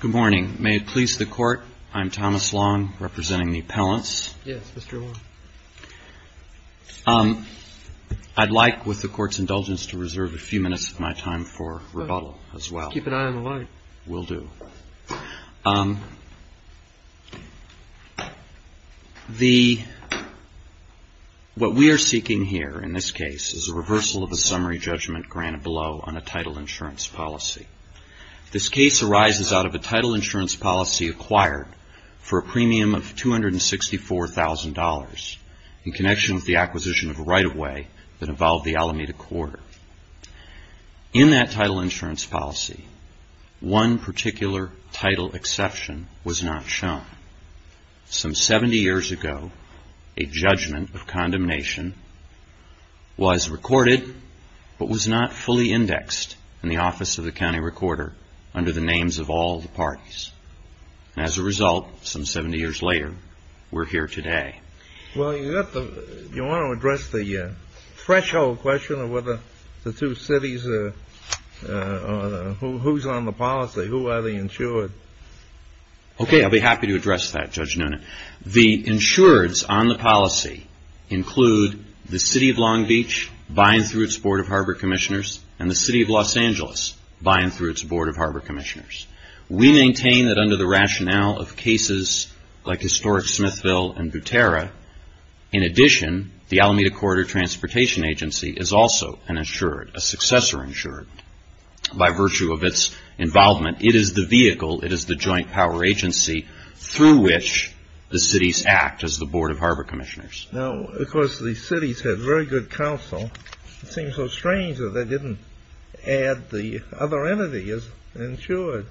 Good morning. May it please the Court, I'm Thomas Long, representing the appellants. Yes, Mr. Long. I'd like, with the Court's indulgence, to reserve a few minutes of my time for rebuttal as well. Let's keep an eye on the line. Will do. What we are seeking here in this case is a reversal of the summary judgment granted below on a title insurance policy. This case arises out of a title insurance policy acquired for a premium of $264,000 in connection with the acquisition of a right-of-way that involved the Alameda Corridor. In that title insurance policy, one particular title exception was not shown. Some 70 years ago, a judgment of condemnation was recorded but was not fully indexed in the Office of the County Recorder under the names of all the parties. And as a result, some 70 years later, we're here today. Well, you want to address the threshold question of whether the two cities, who's on the policy? Who are the insured? Okay, I'll be happy to address that, Judge Noonan. The insureds on the policy include the City of Long Beach buying through its Board of Harbor Commissioners and the City of Los Angeles buying through its Board of Harbor Commissioners. We maintain that under the rationale of cases like Historic Smithville and Butera, in addition, the Alameda Corridor Transportation Agency is also an insured, a successor insured. By virtue of its involvement, it is the vehicle, it is the joint power agency through which the cities act as the Board of Harbor Commissioners. Now, of course, the cities had very good counsel. It seems so strange that they didn't add the other entity as insured.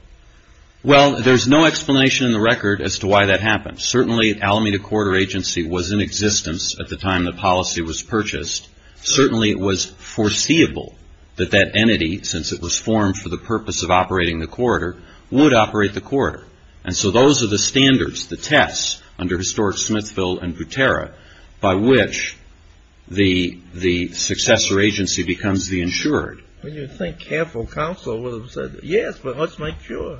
Well, there's no explanation in the record as to why that happened. Certainly, Alameda Corridor Agency was in existence at the time the policy was purchased. Certainly, it was foreseeable that that entity, since it was formed for the purpose of operating the corridor, would operate the corridor. And so those are the standards, the tests under Historic Smithville and Butera by which the successor agency becomes the insured. Well, you'd think careful counsel would have said, yes, but let's make sure.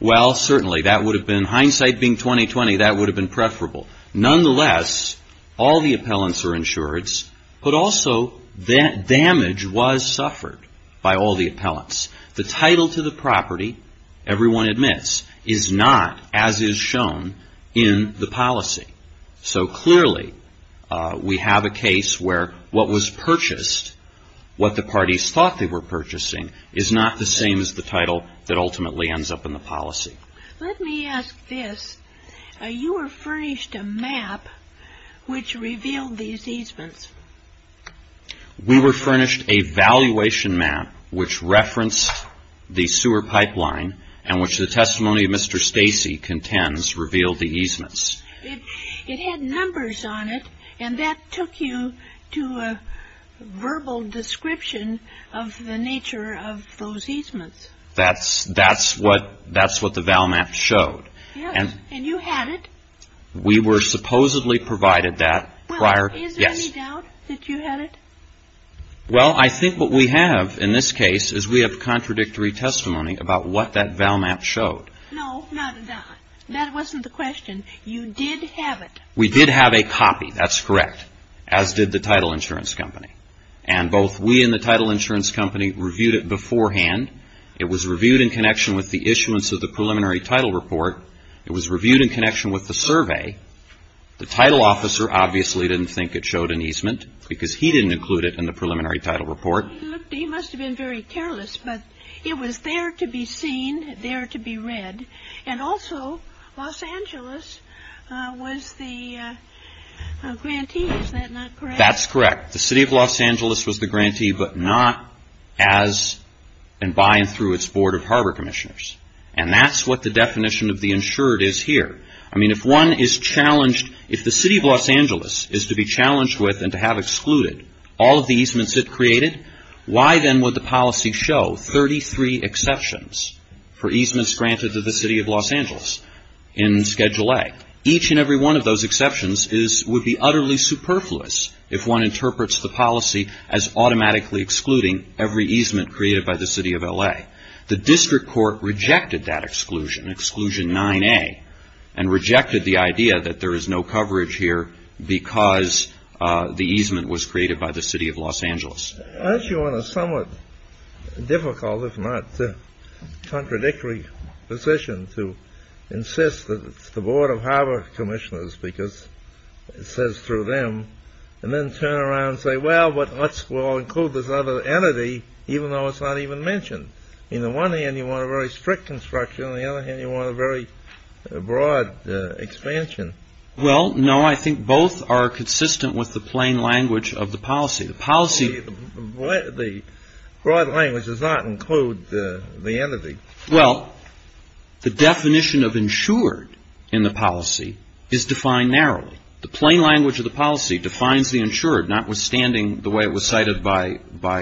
Well, certainly, that would have been, hindsight being 20-20, that would have been preferable. Nonetheless, all the appellants are insureds, but also damage was suffered by all the appellants. The title to the property, everyone admits, is not as is shown in the policy. So clearly, we have a case where what was purchased, what the parties thought they were purchasing, is not the same as the title that ultimately ends up in the policy. Let me ask this. You were furnished a map which revealed these easements. We were furnished a valuation map which referenced the sewer pipeline and which the testimony of Mr. Stacey contends revealed the easements. It had numbers on it, and that took you to a verbal description of the nature of those easements. That's what the ValMap showed. Yes, and you had it? We were supposedly provided that prior. Well, is there any doubt that you had it? Well, I think what we have in this case is we have contradictory testimony about what that ValMap showed. No, not at all. That wasn't the question. You did have it. We did have a copy, that's correct, as did the title insurance company. And both we and the title insurance company reviewed it beforehand. It was reviewed in connection with the issuance of the preliminary title report. It was reviewed in connection with the survey. The title officer obviously didn't think it showed an easement because he didn't include it in the preliminary title report. He must have been very careless, but it was there to be seen, there to be read. And also, Los Angeles was the grantee, is that not correct? That's correct. The City of Los Angeles was the grantee, but not as and by and through its Board of Harbor Commissioners. And that's what the definition of the insured is here. I mean, if one is challenged, if the City of Los Angeles is to be challenged with and to have excluded all of the easements it created, why then would the policy show 33 exceptions for easements granted to the City of Los Angeles in Schedule A? Each and every one of those exceptions would be utterly superfluous if one interprets the policy as automatically excluding every easement created by the City of LA. The district court rejected that exclusion, Exclusion 9A, and rejected the idea that there is no coverage here because the easement was created by the City of Los Angeles. Aren't you on a somewhat difficult, if not contradictory, position to insist that it's the Board of Harbor Commissioners because it says through them, and then turn around and say, well, we'll include this other entity, even though it's not even mentioned? On the one hand, you want a very strict construction. On the other hand, you want a very broad expansion. Well, no, I think both are consistent with the plain language of the policy. The broad language does not include the entity. Well, the definition of insured in the policy is defined narrowly. The plain language of the policy defines the insured, notwithstanding the way it was cited by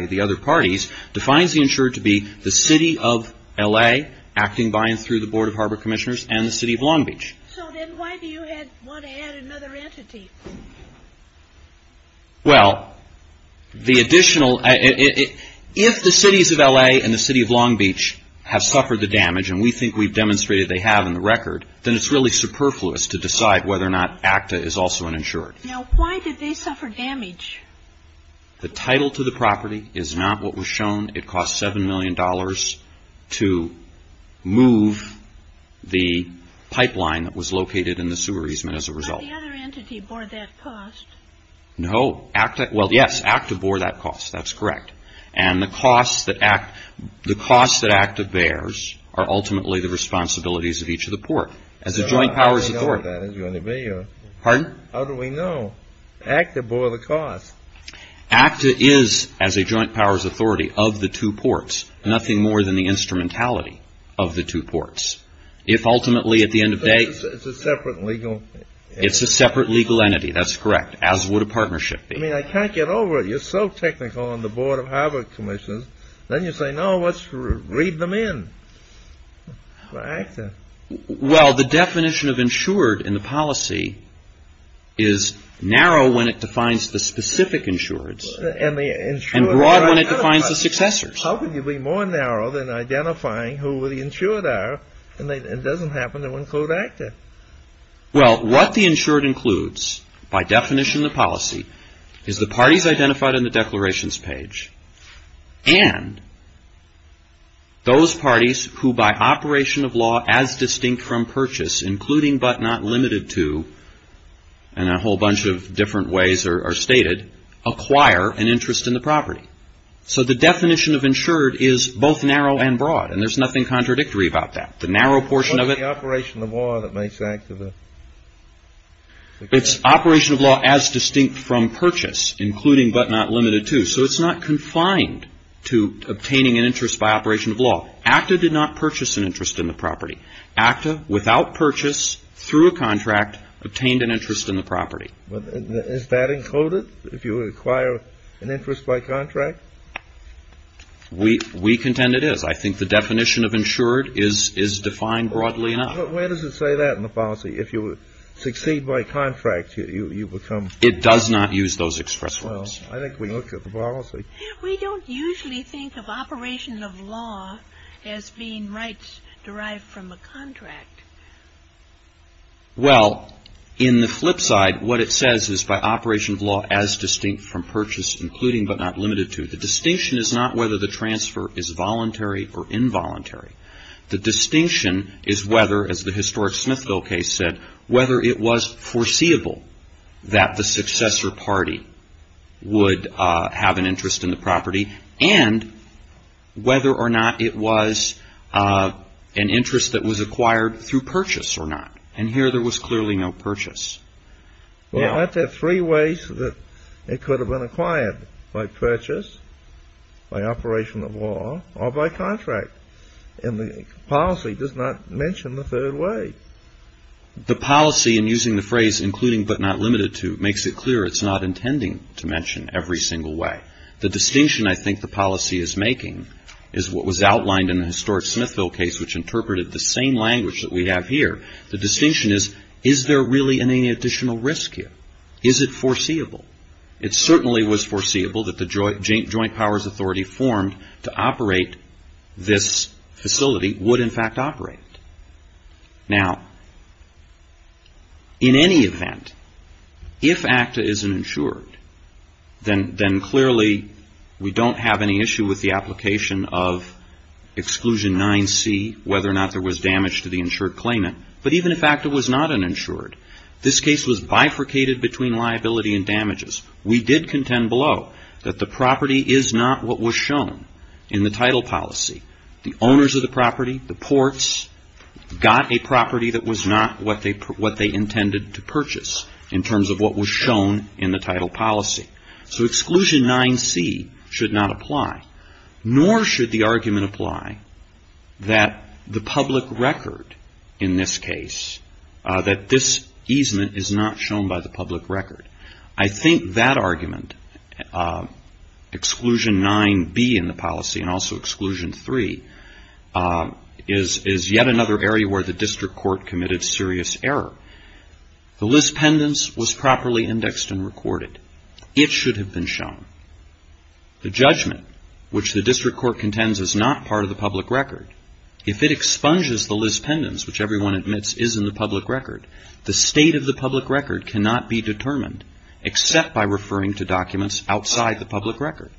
the other parties, defines the insured to be the City of LA acting by and through the Board of Harbor Commissioners and the City of Long Beach. So then why do you want to add another entity? Well, the additional, if the Cities of LA and the City of Long Beach have suffered the damage, and we think we've demonstrated they have in the record, then it's really superfluous to decide whether or not ACTA is also an insured. Now, why did they suffer damage? The title to the property is not what was shown. It cost $7 million to move the pipeline that was located in the sewer easement as a result. Did the other entity bore that cost? No. Well, yes, ACTA bore that cost. That's correct. And the costs that ACTA bears are ultimately the responsibilities of each of the port as a joint powers authority. Pardon? How do we know? ACTA bore the cost. ACTA is, as a joint powers authority, of the two ports, nothing more than the instrumentality of the two ports. It's a separate legal entity. It's a separate legal entity. That's correct, as would a partnership be. I mean, I can't get over it. You're so technical on the Board of Harbor Commissions. Then you say, no, let's read them in for ACTA. Well, the definition of insured in the policy is narrow when it defines the specific insureds, and broad when it defines the successors. How can you be more narrow than identifying who the insured are and it doesn't happen to include ACTA? Well, what the insured includes, by definition of the policy, is the parties identified in the declarations page and those parties who, by operation of law, as distinct from purchase, including but not limited to, and a whole bunch of different ways are stated, acquire an interest in the property. So the definition of insured is both narrow and broad, and there's nothing contradictory about that. The narrow portion of it — What's the operation of law that makes ACTA the — It's operation of law as distinct from purchase, including but not limited to. So it's not confined to obtaining an interest by operation of law. ACTA did not purchase an interest in the property. ACTA, without purchase, through a contract, obtained an interest in the property. Is that included? If you acquire an interest by contract? We contend it is. I think the definition of insured is defined broadly enough. But where does it say that in the policy? If you succeed by contract, you become — It does not use those express words. Well, I think we looked at the policy. We don't usually think of operation of law as being rights derived from a contract. Well, in the flip side, what it says is, by operation of law as distinct from purchase, including but not limited to. The distinction is not whether the transfer is voluntary or involuntary. The distinction is whether, as the historic Smithville case said, whether it was foreseeable that the successor party would have an interest in the property, and whether or not it was an interest that was acquired through purchase or not. And here there was clearly no purchase. Well, aren't there three ways that it could have been acquired? By purchase, by operation of law, or by contract. And the policy does not mention the third way. The policy, in using the phrase including but not limited to, makes it clear it's not intending to mention every single way. The distinction I think the policy is making is what was outlined in the historic Smithville case, which interpreted the same language that we have here. The distinction is, is there really any additional risk here? Is it foreseeable? It certainly was foreseeable that the joint powers authority formed to operate this facility would in fact operate it. Now, in any event, if ACTA is uninsured, then clearly we don't have any issue with the application of Exclusion 9C, whether or not there was damage to the insured claimant. But even if ACTA was not uninsured, this case was bifurcated between liability and damages. We did contend below that the property is not what was shown in the title policy. The owners of the property, the ports, got a property that was not what they intended to purchase, in terms of what was shown in the title policy. So Exclusion 9C should not apply. Nor should the argument apply that the public record in this case, that this easement is not shown by the public record. I think that argument, Exclusion 9B in the policy and also Exclusion 3, is yet another area where the district court committed serious error. The list pendants was properly indexed and recorded. It should have been shown. The judgment, which the district court contends is not part of the public record, if it expunges the list pendants, which everyone admits is in the public record, the state of the public record cannot be determined, except by referring to documents outside the public record.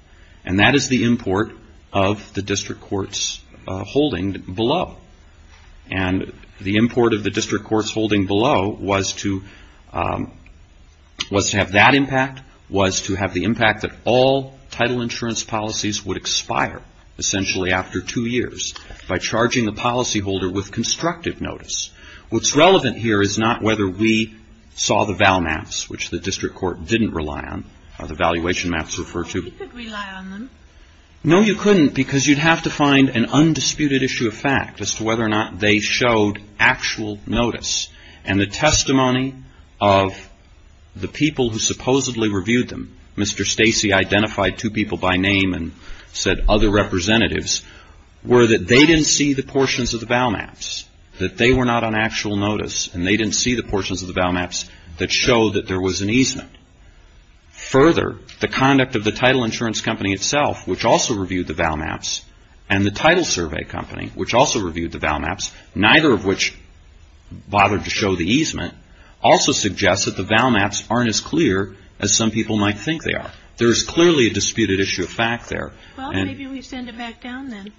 And that is the import of the district court's holding below. And the import of the district court's holding below was to have that impact, was to have the impact that all title insurance policies would expire, essentially after two years, by charging the policyholder with constructive notice. What's relevant here is not whether we saw the vow maps, which the district court didn't rely on, or the valuation maps referred to. We could rely on them. No, you couldn't, because you'd have to find an undisputed issue of fact as to whether or not they showed actual notice. And the testimony of the people who supposedly reviewed them, Mr. Stacey identified two people by name and said other representatives, were that they didn't see the portions of the vow maps, that they were not on actual notice, and they didn't see the portions of the vow maps that showed that there was an easement. Further, the conduct of the title insurance company itself, which also reviewed the vow maps, and the title survey company, which also reviewed the vow maps, neither of which bothered to show the easement, also suggests that the vow maps aren't as clear as some people might think they are. There is clearly a disputed issue of fact there. Well, maybe we send it back down then.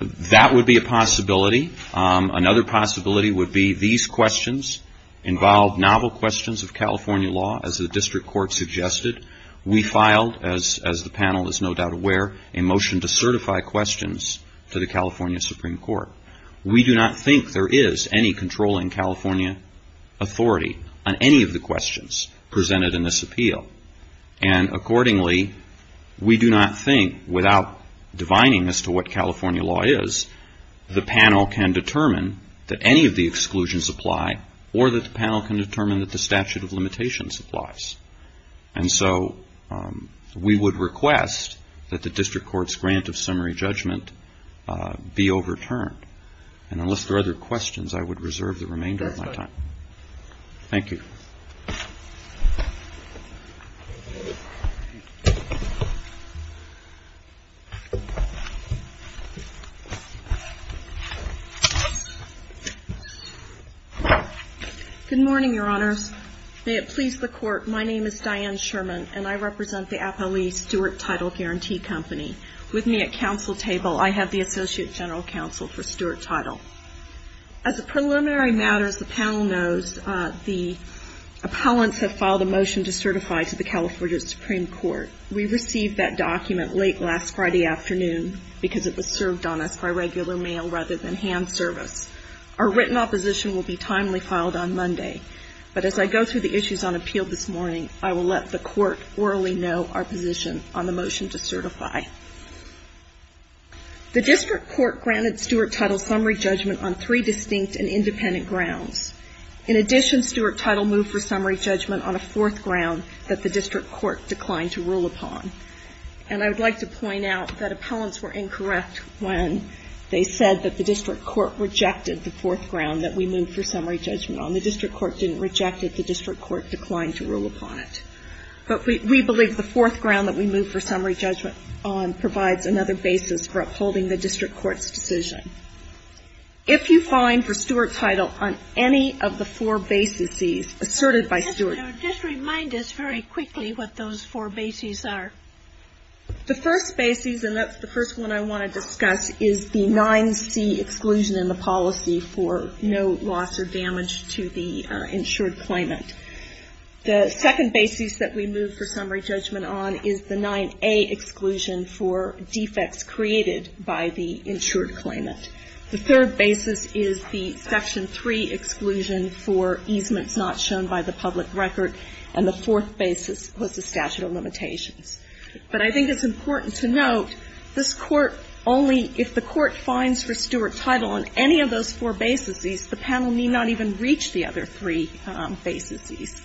That would be a possibility. Another possibility would be these questions involve novel questions of California law, as the district court suggested. We filed, as the panel is no doubt aware, a motion to certify questions to the California Supreme Court. We do not think there is any controlling California authority on any of the questions presented in this appeal. And accordingly, we do not think, without divining as to what California law is, the panel can determine that any of the exclusions apply, or that the panel can determine that the statute of limitations applies. And so we would request that the district court's grant of summary judgment be overturned. And unless there are other questions, I would reserve the remainder of my time. Thank you. Good morning, Your Honors. May it please the Court, my name is Diane Sherman, and I represent the Appali Stewart Title Guarantee Company. With me at council table, I have the Associate General Counsel for Stewart Title. As a preliminary matter, as the panel knows, the appellants have filed a motion to certify to the California Supreme Court. We received that document late last Friday afternoon, because it was served on us by regular mail rather than hand service. Our written opposition will be timely filed on Monday. But as I go through the issues on appeal this morning, I will let the court orally know our position on the motion to certify. The district court granted Stewart Title summary judgment on three distinct and independent grounds. In addition, Stewart Title moved for summary judgment on a fourth ground that the district court declined to rule upon. And I would like to point out that appellants were incorrect when they said that the district court rejected the fourth ground that we moved for summary judgment on. The district court didn't reject it. The district court declined to rule upon it. But we believe the fourth ground that we moved for summary judgment on provides another basis for upholding the district court's decision. If you find for Stewart Title on any of the four bases asserted by Stewart Title. Just remind us very quickly what those four bases are. The first bases, and that's the first one I want to discuss, is the 9C exclusion in the policy for no loss or damage to the insured claimant. The second basis that we moved for summary judgment on is the 9A exclusion for defects created by the insured claimant. The third basis is the Section 3 exclusion for easements not shown by the public record. And the fourth basis was the statute of limitations. But I think it's important to note this Court only, if the Court finds for Stewart Title on any of those four bases, the panel need not even reach the other three bases.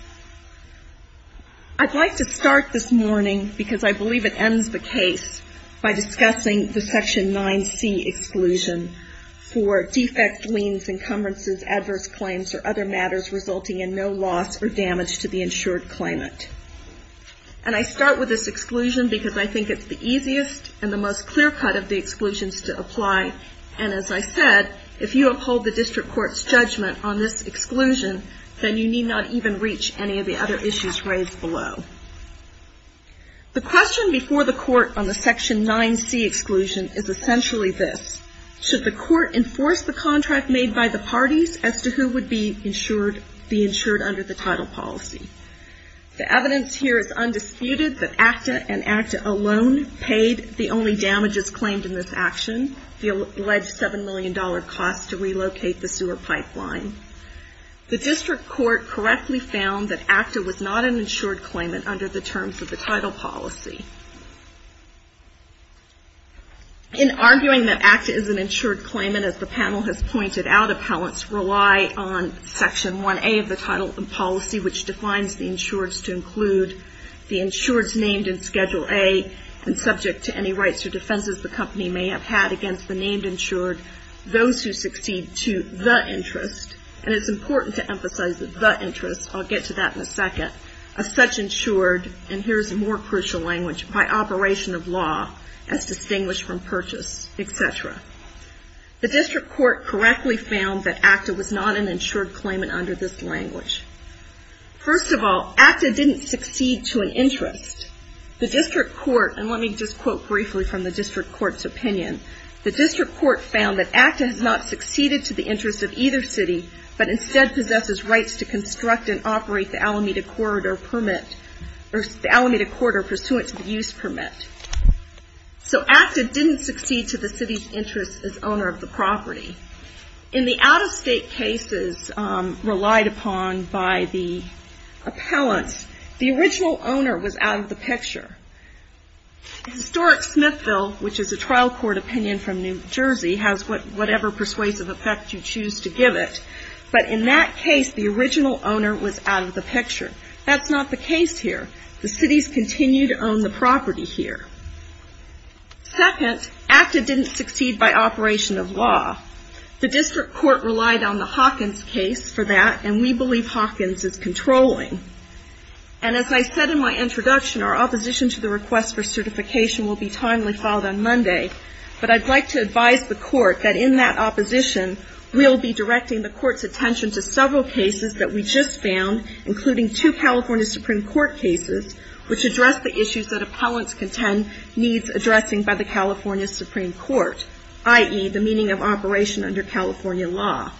I'd like to start this morning, because I believe it ends the case, by discussing the Section 9C exclusion for defect, liens, encumbrances, adverse claims, or other matters resulting in no loss or damage to the insured claimant. And I start with this exclusion because I think it's the easiest and the most clear cut of the exclusions to apply. And as I said, if you uphold the District Court's judgment on this exclusion, then you need not even reach any of the other issues raised below. The question before the Court on the Section 9C exclusion is essentially this. Should the Court enforce the contract made by the parties as to who would be insured under the title policy? The evidence here is undisputed that ACTA and ACTA alone paid the only damages claimed in this action. The alleged $7 million cost to relocate the sewer pipeline. The District Court correctly found that ACTA was not an insured claimant under the terms of the title policy. In arguing that ACTA is an insured claimant, as the panel has pointed out, appellants rely on Section 1A of the title policy, which defines the insureds to include the insureds named in Schedule A and subject to any rights or defenses the company may have had against the named insured, those who succeed to the interest. And it's important to emphasize the interest. I'll get to that in a second. A such insured, and here's a more crucial language, by operation of law, as distinguished from purchase, et cetera. The District Court correctly found that ACTA was not an insured claimant under this language. First of all, ACTA didn't succeed to an interest. The District Court, and let me just quote briefly from the District Court's opinion, the District Court found that ACTA has not succeeded to the interest of either city, but instead possesses rights to construct and operate the Alameda Corridor permit, or the Alameda Corridor pursuant to the use permit. So ACTA didn't succeed to the city's interest as owner of the property. In the out-of-state cases relied upon by the appellant, the original owner was out of the picture. Historic Smithville, which is a trial court opinion from New Jersey, has whatever persuasive effect you choose to give it, but in that case the original owner was out of the picture. That's not the case here. The cities continue to own the property here. Second, ACTA didn't succeed by operation of law. The District Court relied on the Hawkins case for that, and we believe Hawkins is controlling. And as I said in my introduction, our opposition to the request for certification will be timely filed on Monday, but I'd like to advise the Court that in that opposition, we'll be directing the Court's attention to several cases that we just found, including two California Supreme Court cases, which address the issues that appellants contend needs addressing by the California Supreme Court, i.e., the meaning of operation under California law.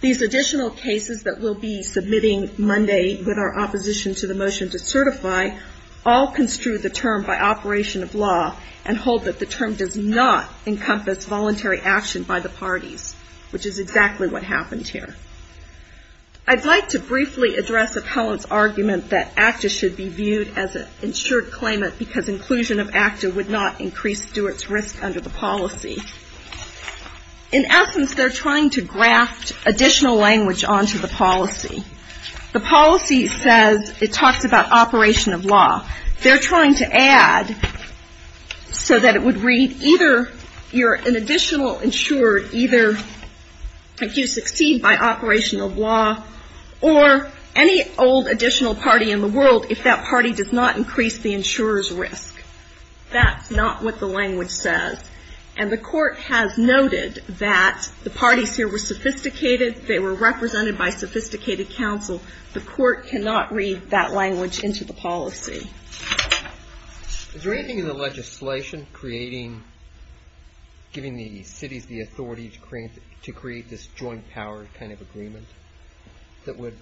These additional cases that we'll be submitting Monday with our opposition to the motion to certify all construe the term by operation of law and hold that the term does not encompass voluntary action by the parties, which is exactly what happened here. I'd like to briefly address appellants' argument that ACTA should be viewed as an insured claimant because inclusion of ACTA would not increase Stewart's risk under the policy. In essence, they're trying to graft additional language onto the policy. The policy says it talks about operation of law. They're trying to add so that it would read either you're an additional insured, either you succeed by operation of law, or any old additional party in the world if that party does not increase the insurer's risk. That's not what the language says. And the Court has noted that the parties here were sophisticated. They were represented by sophisticated counsel. The Court cannot read that language into the policy. Is there anything in the legislation giving the cities the authority to create this joint power kind of agreement that would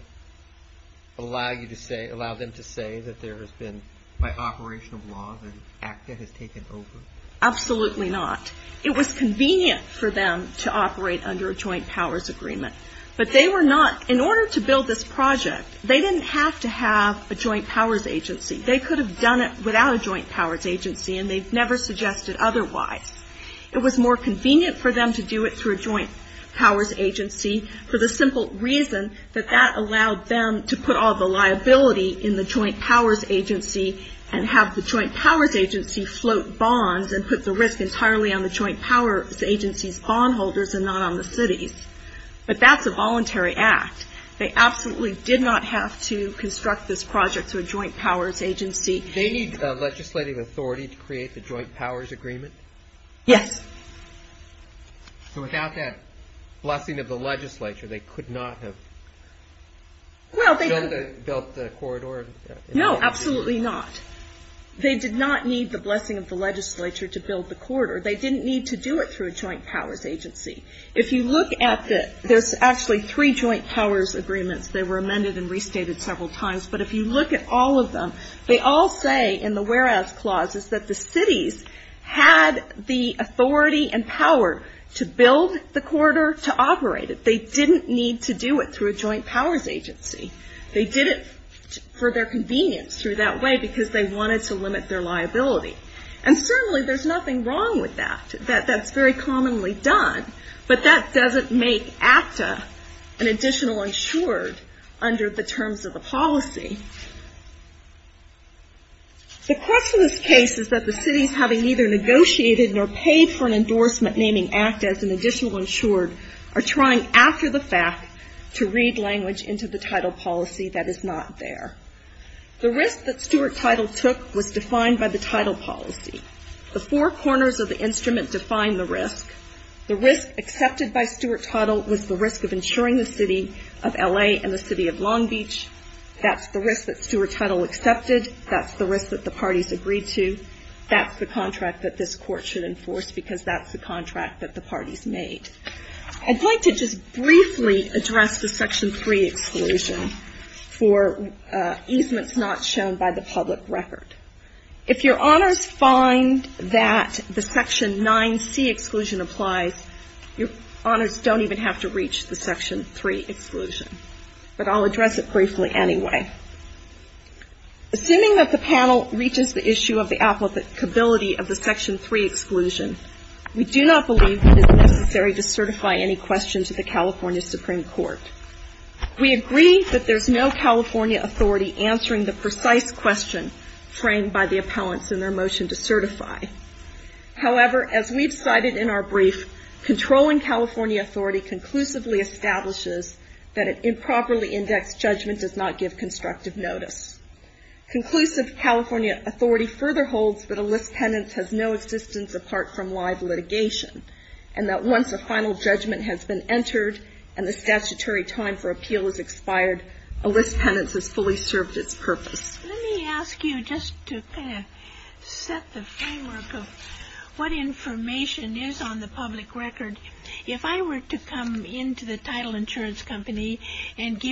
allow them to say that there has been by operation of law that ACTA has taken over? Absolutely not. It was convenient for them to operate under a joint powers agreement, but they were not, in order to build this project, they didn't have to have a joint powers agency. They could have done it without a joint powers agency, and they've never suggested otherwise. It was more convenient for them to do it through a joint powers agency for the simple reason that that allowed them to put all the liability in the joint powers agency and have the joint powers agency float bonds and put the risk entirely on the joint powers agency's bondholders and not on the city's. But that's a voluntary act. They absolutely did not have to construct this project through a joint powers agency. They need legislative authority to create the joint powers agreement? Yes. So without that blessing of the legislature, they could not have built the corridor? No, absolutely not. They did not need the blessing of the legislature to build the corridor. They didn't need to do it through a joint powers agency. If you look at the ñ there's actually three joint powers agreements. They were amended and restated several times. But if you look at all of them, they all say in the whereabouts clauses that the cities had the authority and power to build the corridor, to operate it. They didn't need to do it through a joint powers agency. They did it for their convenience through that way because they wanted to limit their liability. And certainly there's nothing wrong with that. That's very commonly done. But that doesn't make ACTA an additional insured under the terms of the policy. The question of this case is that the cities having neither negotiated nor paid for an endorsement naming ACTA as an additional insured are trying after the fact to read language into the title policy that is not there. The risk that Stuart Title took was defined by the title policy. The four corners of the instrument define the risk. The risk accepted by Stuart Title was the risk of insuring the city of L.A. and the city of Long Beach. That's the risk that Stuart Title accepted. That's the risk that the parties agreed to. That's the contract that this Court should enforce because that's the contract that the parties made. I'd like to just briefly address the Section 3 exclusion for easements not shown by the public record. If your honors find that the Section 9c exclusion applies, your honors don't even have to reach the Section 3 exclusion. But I'll address it briefly anyway. Assuming that the panel reaches the issue of the applicability of the Section 3 exclusion, we do not believe it is necessary to certify any question to the California Supreme Court. We agree that there's no California authority answering the precise question framed by the appellants in their motion to certify. However, as we've cited in our brief, controlling California authority conclusively establishes that an improperly indexed judgment does not give constructive notice. Conclusive California authority further holds that a list penance has no existence apart from live litigation and that once a final judgment has been entered and the statutory time for appeal has expired, a list penance has fully served its purpose. Let me ask you just to kind of set the framework of what information is on the public record. If I were to come into the title insurance company and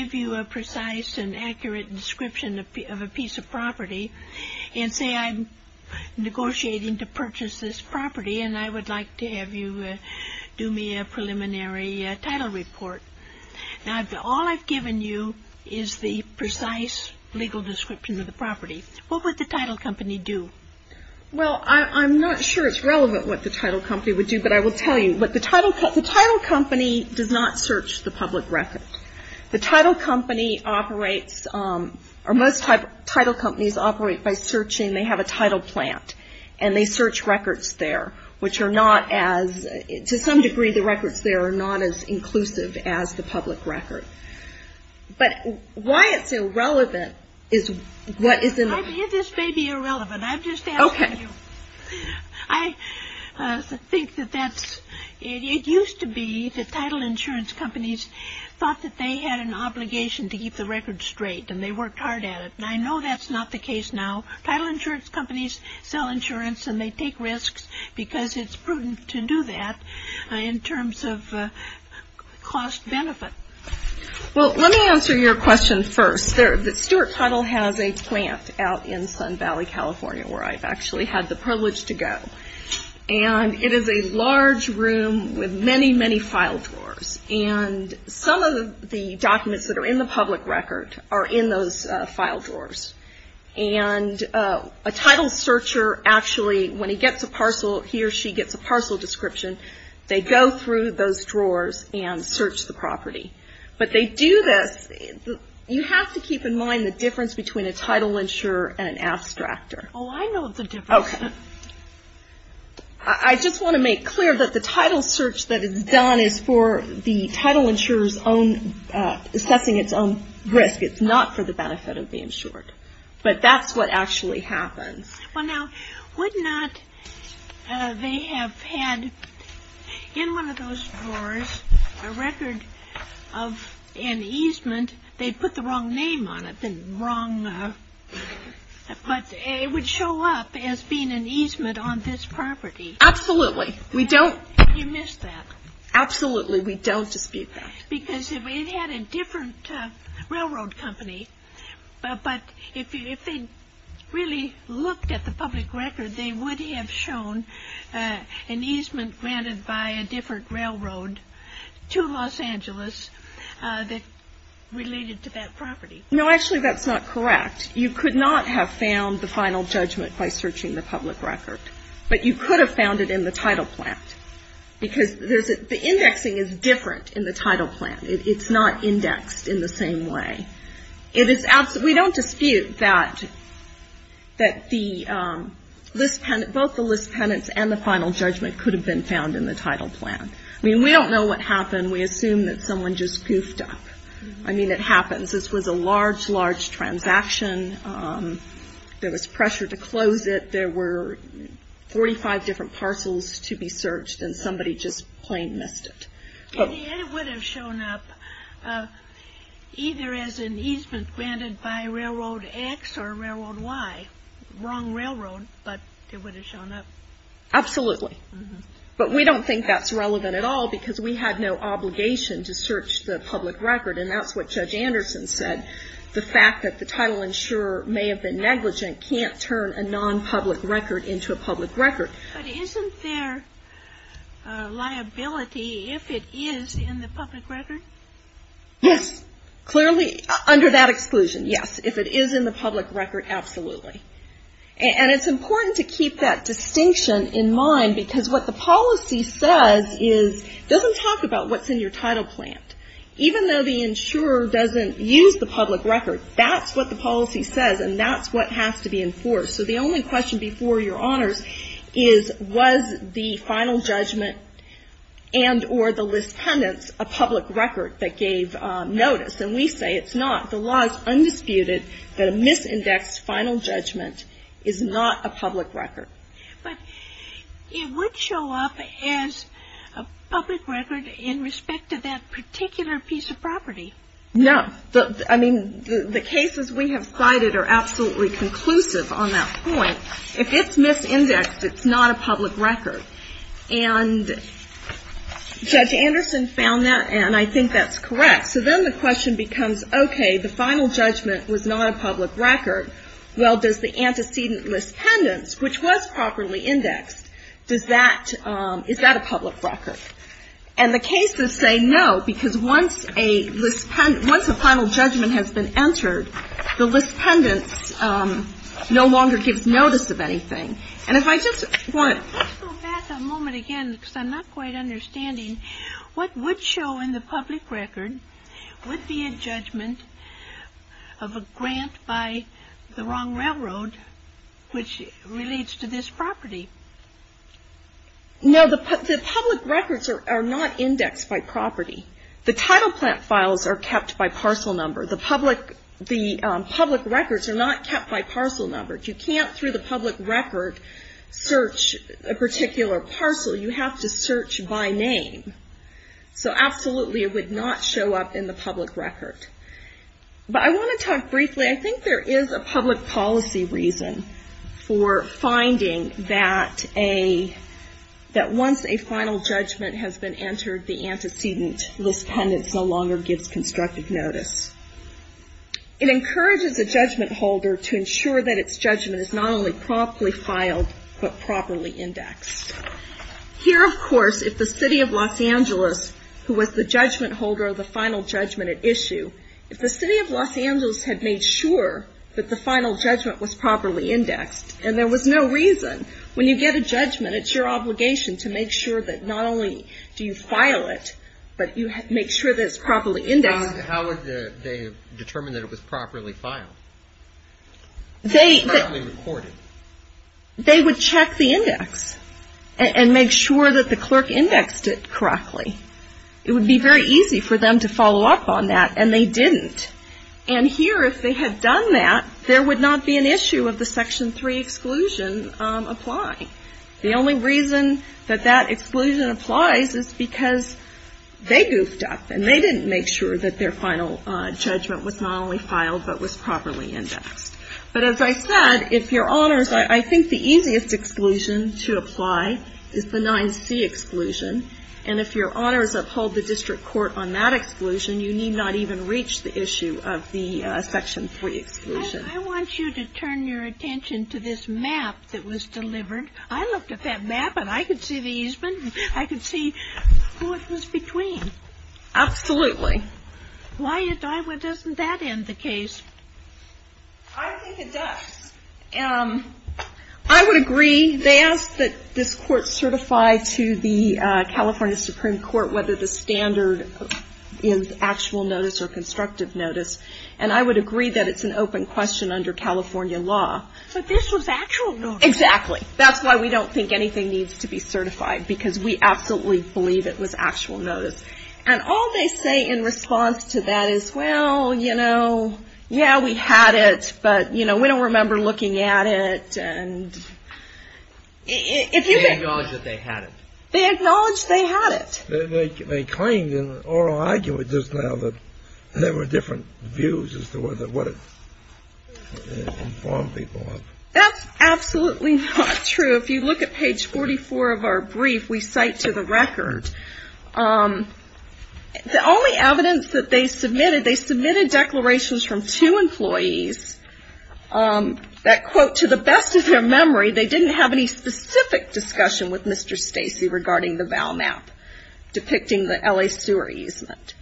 say I'm negotiating to purchase this property and I would like to have you do me a preliminary title report. Now, all I've given you is the precise legal description of the property. What would the title company do? Well, I'm not sure it's relevant what the title company would do, but I will tell you. The title company does not search the public record. The title company operates, or most title companies operate by searching. They have a title plant and they search records there, which are not as, to some degree, the records there are not as inclusive as the public record. But why it's irrelevant is what is in. This may be irrelevant. I'm just asking you. Okay. I think that that's, it used to be that title insurance companies thought that they had an obligation to keep the record straight and they worked hard at it. And I know that's not the case now. Title insurance companies sell insurance and they take risks because it's prudent to do that in terms of cost benefit. Well, let me answer your question first. Stewart Title has a plant out in Sun Valley, California, where I've actually had the privilege to go. And it is a large room with many, many file drawers. And some of the documents that are in the public record are in those file drawers. And a title searcher actually, when he gets a parcel, he or she gets a parcel description, they go through those drawers and search the property. But they do this. You have to keep in mind the difference between a title insurer and an abstractor. Oh, I know the difference. Okay. I just want to make clear that the title search that is done is for the title insurer's own, assessing its own risk. It's not for the benefit of the insured. But that's what actually happens. Well, now, would not they have had in one of those drawers a record of an easement. They put the wrong name on it. Something wrong. But it would show up as being an easement on this property. Absolutely. We don't. You missed that. Absolutely. We don't dispute that. Because it had a different railroad company. But if they really looked at the public record, they would have shown an easement granted by a different railroad to Los Angeles that related to that property. No, actually, that's not correct. You could not have found the final judgment by searching the public record. But you could have found it in the title plan. Because the indexing is different in the title plan. It's not indexed in the same way. We don't dispute that both the list penance and the final judgment could have been found in the title plan. I mean, we don't know what happened. We assume that someone just goofed up. I mean, it happens. This was a large, large transaction. There was pressure to close it. There were 45 different parcels to be searched. And somebody just plain missed it. It would have shown up either as an easement granted by Railroad X or Railroad Y. Wrong railroad, but it would have shown up. Absolutely. But we don't think that's relevant at all. Because we had no obligation to search the public record. And that's what Judge Anderson said. The fact that the title insurer may have been negligent can't turn a non-public record into a public record. But isn't there liability if it is in the public record? Yes. Clearly, under that exclusion, yes. If it is in the public record, absolutely. And it's important to keep that distinction in mind. Because what the policy says is it doesn't talk about what's in your title plan. Even though the insurer doesn't use the public record, that's what the policy says. And that's what has to be enforced. So the only question before your honors is, was the final judgment and or the list pendants a public record that gave notice? And we say it's not. The law is undisputed that a misindexed final judgment is not a public record. But it would show up as a public record in respect to that particular piece of property. No. I mean, the cases we have cited are absolutely conclusive on that point. If it's misindexed, it's not a public record. And Judge Anderson found that, and I think that's correct. So then the question becomes, okay, the final judgment was not a public record. Well, does the antecedent list pendants, which was properly indexed, is that a public record? And the cases say no, because once a final judgment has been entered, the list pendants no longer gives notice of anything. Let's go back a moment again, because I'm not quite understanding. What would show in the public record would be a judgment of a grant by the wrong railroad, which relates to this property? No, the public records are not indexed by property. The title plant files are kept by parcel number. The public records are not kept by parcel number. You can't, through the public record, search a particular parcel. You have to search by name. So absolutely it would not show up in the public record. But I want to talk briefly. I think there is a public policy reason for finding that once a final judgment has been entered, the antecedent list pendants no longer gives constructive notice. It encourages a judgment holder to ensure that its judgment is not only properly filed, but properly indexed. Here, of course, if the City of Los Angeles, who was the judgment holder of the final judgment at issue, if the City of Los Angeles had made sure that the final judgment was properly indexed, and there was no reason, when you get a judgment, it's your obligation to make sure that not only do you file it, but you make sure that it's properly indexed. How would they determine that it was properly filed? It's properly recorded. They would check the index and make sure that the clerk indexed it correctly. It would be very easy for them to follow up on that, and they didn't. And here, if they had done that, there would not be an issue of the Section 3 exclusion applying. The only reason that that exclusion applies is because they goofed up, and they didn't make sure that their final judgment was not only filed, but was properly indexed. But as I said, if Your Honors, I think the easiest exclusion to apply is the 9C exclusion, and if Your Honors uphold the district court on that exclusion, you need not even reach the issue of the Section 3 exclusion. I want you to turn your attention to this map that was delivered. I looked at that map, and I could see the easement. I could see who it was between. Absolutely. Why doesn't that end the case? I think it does. I would agree. They asked that this court certify to the California Supreme Court whether the standard is actual notice or constructive notice. And I would agree that it's an open question under California law. But this was actual notice. Exactly. That's why we don't think anything needs to be certified, because we absolutely believe it was actual notice. And all they say in response to that is, well, you know, yeah, we had it, but, you know, we don't remember looking at it. And if you can ---- They acknowledge that they had it. They acknowledge they had it. They claimed in an oral argument just now that there were different views as to what it informed people of. That's absolutely not true. If you look at page 44 of our brief, we cite to the record the only evidence that they submitted, they submitted declarations from two employees that, quote, to the best of their memory, they didn't have any specific discussion with Mr. Stacey regarding the VALMAP depicting the L.A. sewer easement.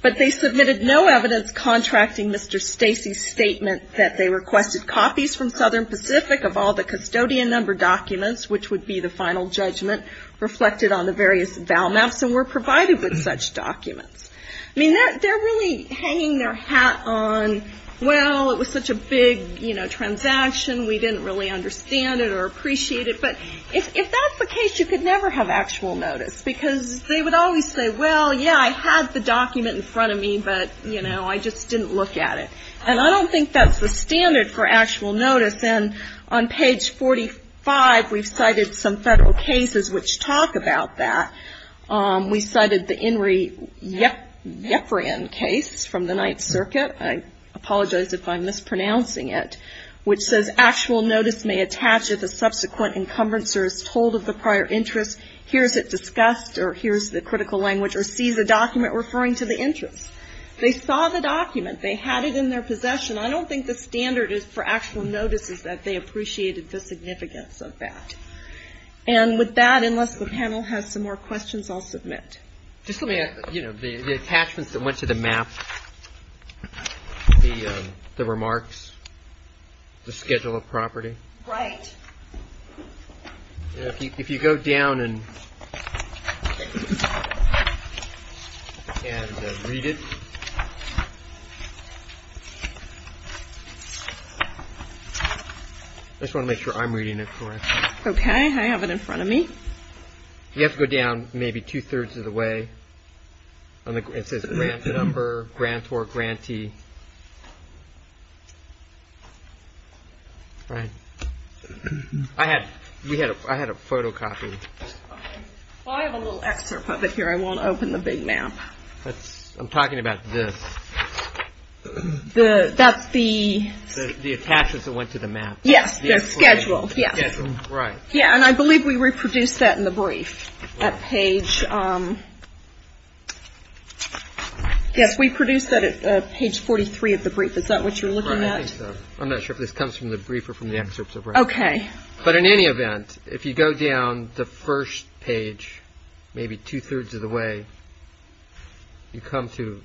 But they submitted no evidence contracting Mr. Stacey's statement that they requested copies from Southern Pacific of all the custodian number documents, which would be the final judgment, reflected on the various VALMAPs and were provided with such documents. I mean, they're really hanging their hat on, well, it was such a big, you know, transaction, we didn't really understand it or appreciate it. But if that's the case, you could never have actual notice, because they would always say, well, yeah, I had the document in front of me, but, you know, I just didn't look at it. And I don't think that's the standard for actual notice. And on page 45, we've cited some federal cases which talk about that. We cited the Enri Yefren case from the Ninth Circuit. I apologize if I'm mispronouncing it, which says, actual notice may attach if a subsequent encumbrancer is told of the prior interest, hears it discussed, or hears the critical language, or sees a document referring to the interest. They saw the document. They had it in their possession. I don't think the standard is for actual notice is that they appreciated the significance of that. And with that, unless the panel has some more questions, I'll submit. Just let me, you know, the attachments that went to the map, the remarks, the schedule of property. Right. If you go down and read it, I just want to make sure I'm reading it correctly. Okay. I have it in front of me. You have to go down maybe two-thirds of the way. It says grant number, grant or grantee. Right. I had a photocopy. I have a little excerpt of it here. I won't open the big map. I'm talking about this. That's the. The attachments that went to the map. Yes, the schedule, yes. Schedule, right. Yeah, and I believe we reproduced that in the brief at page. Yes, we produced that at page 43 of the brief. Is that what you're looking at? I think so. I'm not sure if this comes from the brief or from the excerpt. Okay. But in any event, if you go down the first page, maybe two-thirds of the way, you come to.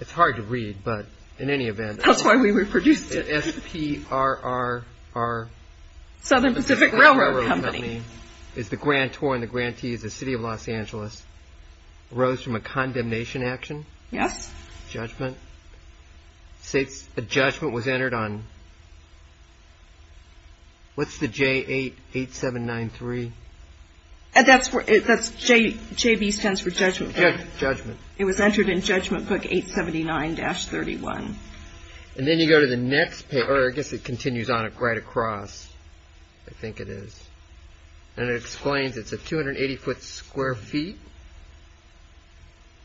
It's hard to read, but in any event. That's why we reproduced it. JPRR. Southern Pacific Railroad Company. Is the grantor and the grantee is the city of Los Angeles. Arose from a condemnation action. Yes. Judgment. A judgment was entered on. What's the J8793? That's JB stands for judgment. Judgment. It was entered in judgment book 879-31. And then you go to the next page, or I guess it continues on right across. I think it is. And it explains it's a 280-foot square feet.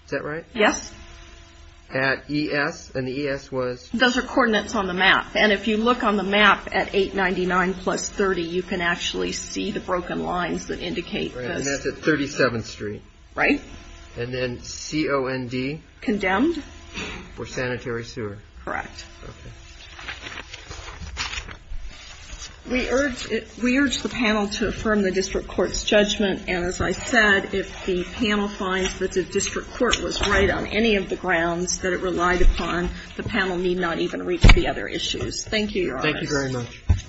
Is that right? Yes. At ES, and the ES was. Those are coordinates on the map. And if you look on the map at 899 plus 30, you can actually see the broken lines that indicate this. And that's at 37th Street. Right. And then COND. Condemned. For sanitary sewer. Correct. Okay. We urge the panel to affirm the district court's judgment. And as I said, if the panel finds that the district court was right on any of the grounds that it relied upon, the panel need not even read the other issues. Thank you, Your Honor. Thank you very much. Thank you.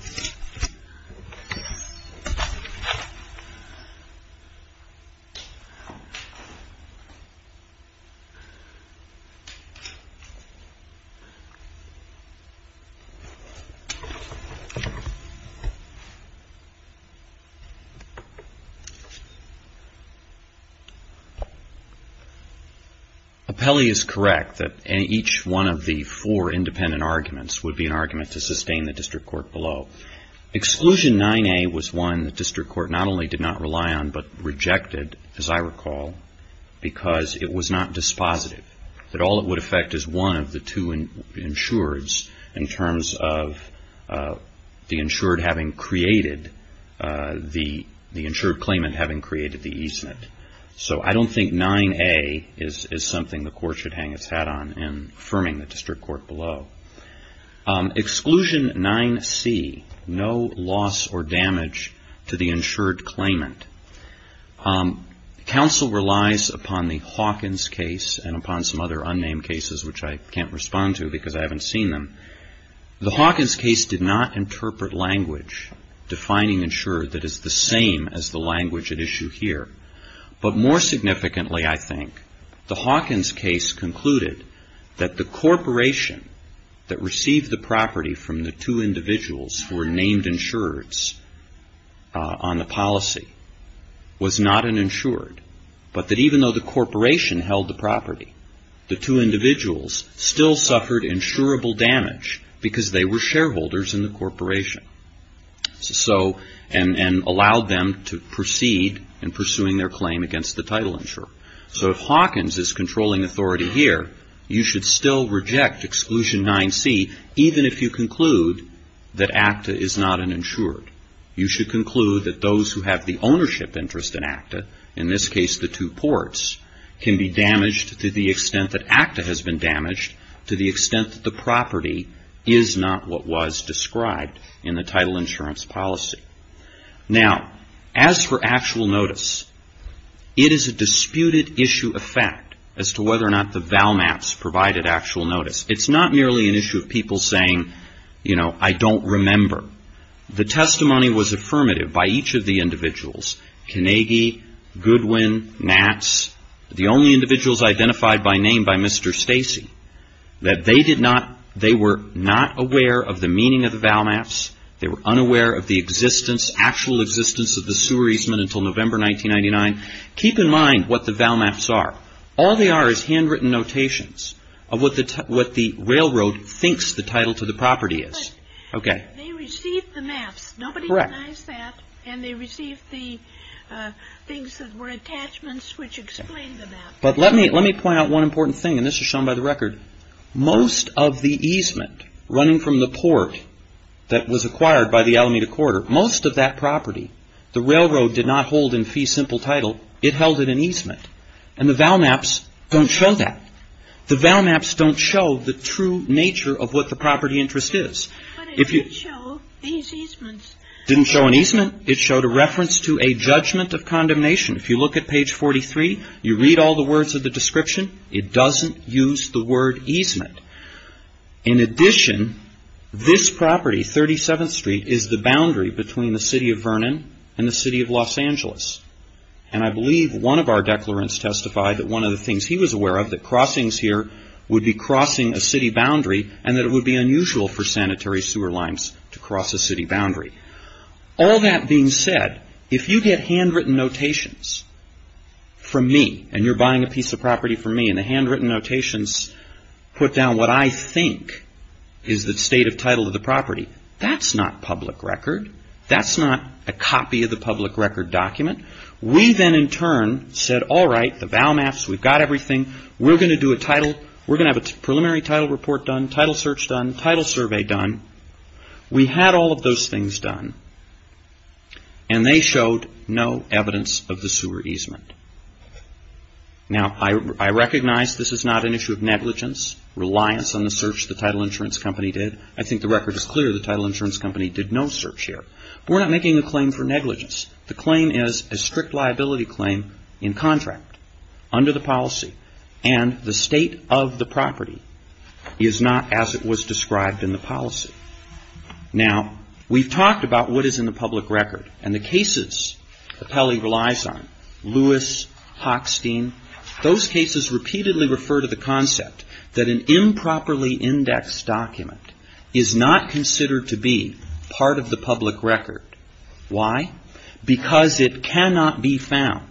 Appelli is correct that each one of the four independent arguments would be an argument to sustain the district court below. Exclusion 9A was one the district court not only did not rely on but rejected, as I recall, because it was not dispositive, that all it would affect is one of the two insureds in terms of the insured having created the insured claimant having created the easement. So I don't think 9A is something the court should hang its hat on in affirming the district court below. Exclusion 9C, no loss or damage to the insured claimant. Counsel relies upon the Hawkins case and upon some other unnamed cases, which I can't respond to because I haven't seen them. The Hawkins case did not interpret language defining insured that is the same as the language at issue here. But more significantly, I think, the Hawkins case concluded that the corporation that received the property from the two individuals who were named insureds on the policy was not an insured, but that even though the corporation held the property, the two individuals still suffered insurable damage because they were shareholders in the corporation and allowed them to proceed in pursuing their claim against the title insurer. So if Hawkins is controlling authority here, you should still reject Exclusion 9C even if you conclude that ACTA is not an insured. You should conclude that those who have the ownership interest in ACTA, in this case the two ports, can be damaged to the extent that ACTA has been damaged to the extent that the property is not what was described in the title insurance policy. Now, as for actual notice, it is a disputed issue of fact as to whether or not the Valmaps provided actual notice. It's not merely an issue of people saying, you know, I don't remember. The testimony was affirmative by each of the individuals, Kennedy, Goodwin, Nats, the only individuals identified by name by Mr. Stacey, that they did not, they were not aware of the meaning of the Valmaps. They were unaware of the existence, actual existence of the sewer easement until November 1999. Keep in mind what the Valmaps are. All they are is handwritten notations of what the railroad thinks the title to the property is. Okay. They received the maps. Nobody recognized that. Correct. And they received the things that were attachments which explained the map. But let me point out one important thing, and this is shown by the record. Most of the easement running from the port that was acquired by the Alameda Corridor, most of that property, the railroad did not hold in fee simple title. It held it in easement. And the Valmaps don't show that. The Valmaps don't show the true nature of what the property interest is. But it did show these easements. It didn't show an easement. It showed a reference to a judgment of condemnation. If you look at page 43, you read all the words of the description, it doesn't use the word easement. In addition, this property, 37th Street, is the boundary between the city of Vernon and the city of Los Angeles. And I believe one of our declarants testified that one of the things he was aware of, that crossings here would be crossing a city boundary, and that it would be unusual for sanitary sewer lines to cross a city boundary. All that being said, if you get handwritten notations from me, and you're buying a piece of property from me, and the handwritten notations put down what I think is the state of title of the property, that's not public record. That's not a copy of the public record document. We then in turn said, all right, the vow maps, we've got everything, we're going to do a title, we're going to have a preliminary title report done, title search done, title survey done. We had all of those things done. And they showed no evidence of the sewer easement. Now, I recognize this is not an issue of negligence, reliance on the search the title insurance company did. I think the record is clear the title insurance company did no search here. We're not making a claim for negligence. The claim is a strict liability claim in contract under the policy, and the state of the property is not as it was described in the policy. Now, we've talked about what is in the public record, and the cases that Pelley relies on, Lewis, Hochstein, those cases repeatedly refer to the concept that an improperly indexed document is not considered to be part of the public record. Why? Because it cannot be found.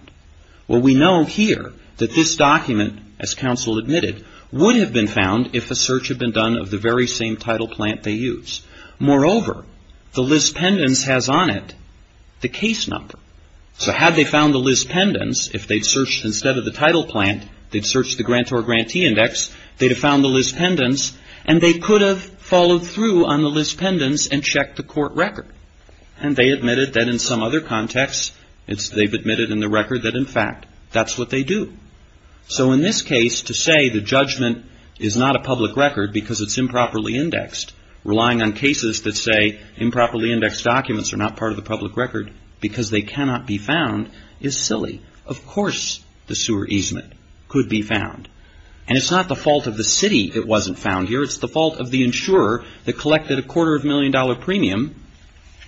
Well, we know here that this document, as counsel admitted, would have been found if a search had been done of the very same title plant they use. Moreover, the list pendants has on it the case number. So had they found the list pendants, if they'd searched instead of the title plant, they'd searched the grantor grantee index, they'd have found the list pendants, and they could have followed through on the list pendants and checked the court record. And they admitted that in some other contexts, they've admitted in the record that, in fact, that's what they do. So in this case, to say the judgment is not a public record because it's improperly indexed, relying on cases that say improperly indexed documents are not part of the public record because they cannot be found is silly. Of course the sewer easement could be found. And it's not the fault of the city it wasn't found here. It's the fault of the insurer that collected a quarter of a million dollar premium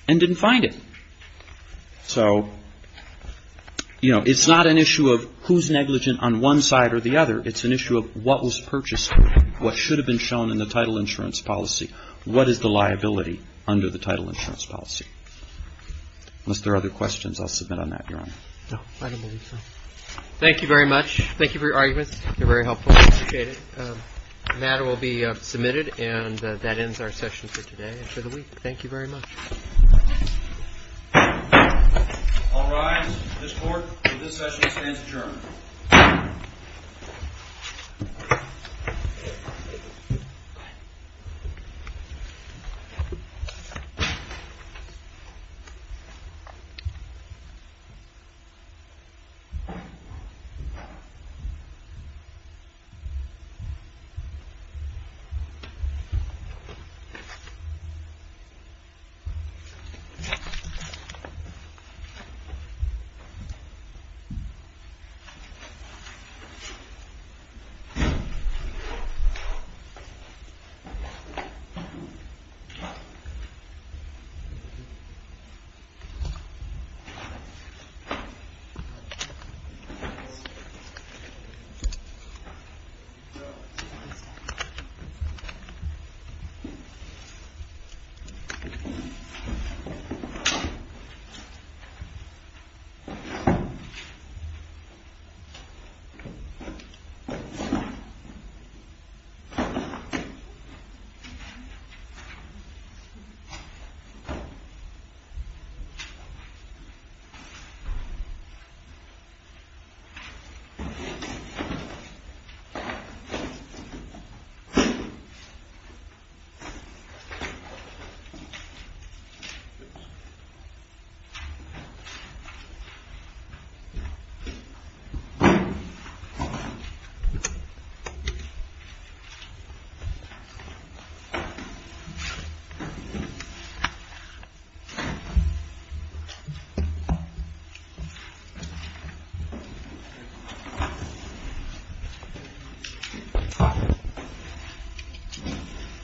and didn't find it. So, you know, it's not an issue of who's negligent on one side or the other. It's an issue of what was purchased, what should have been shown in the title insurance policy. What is the liability under the title insurance policy? Unless there are other questions, I'll submit on that, Your Honor. No, I don't believe so. Thank you very much. Thank you for your arguments. They're very helpful. I appreciate it. The matter will be submitted and that ends our session for today and for the week. Thank you very much. All rise. This Court, this session stands adjourned. Thank you. Thank you. Thank you. Thank you. Thank you. Thank you. Thank you.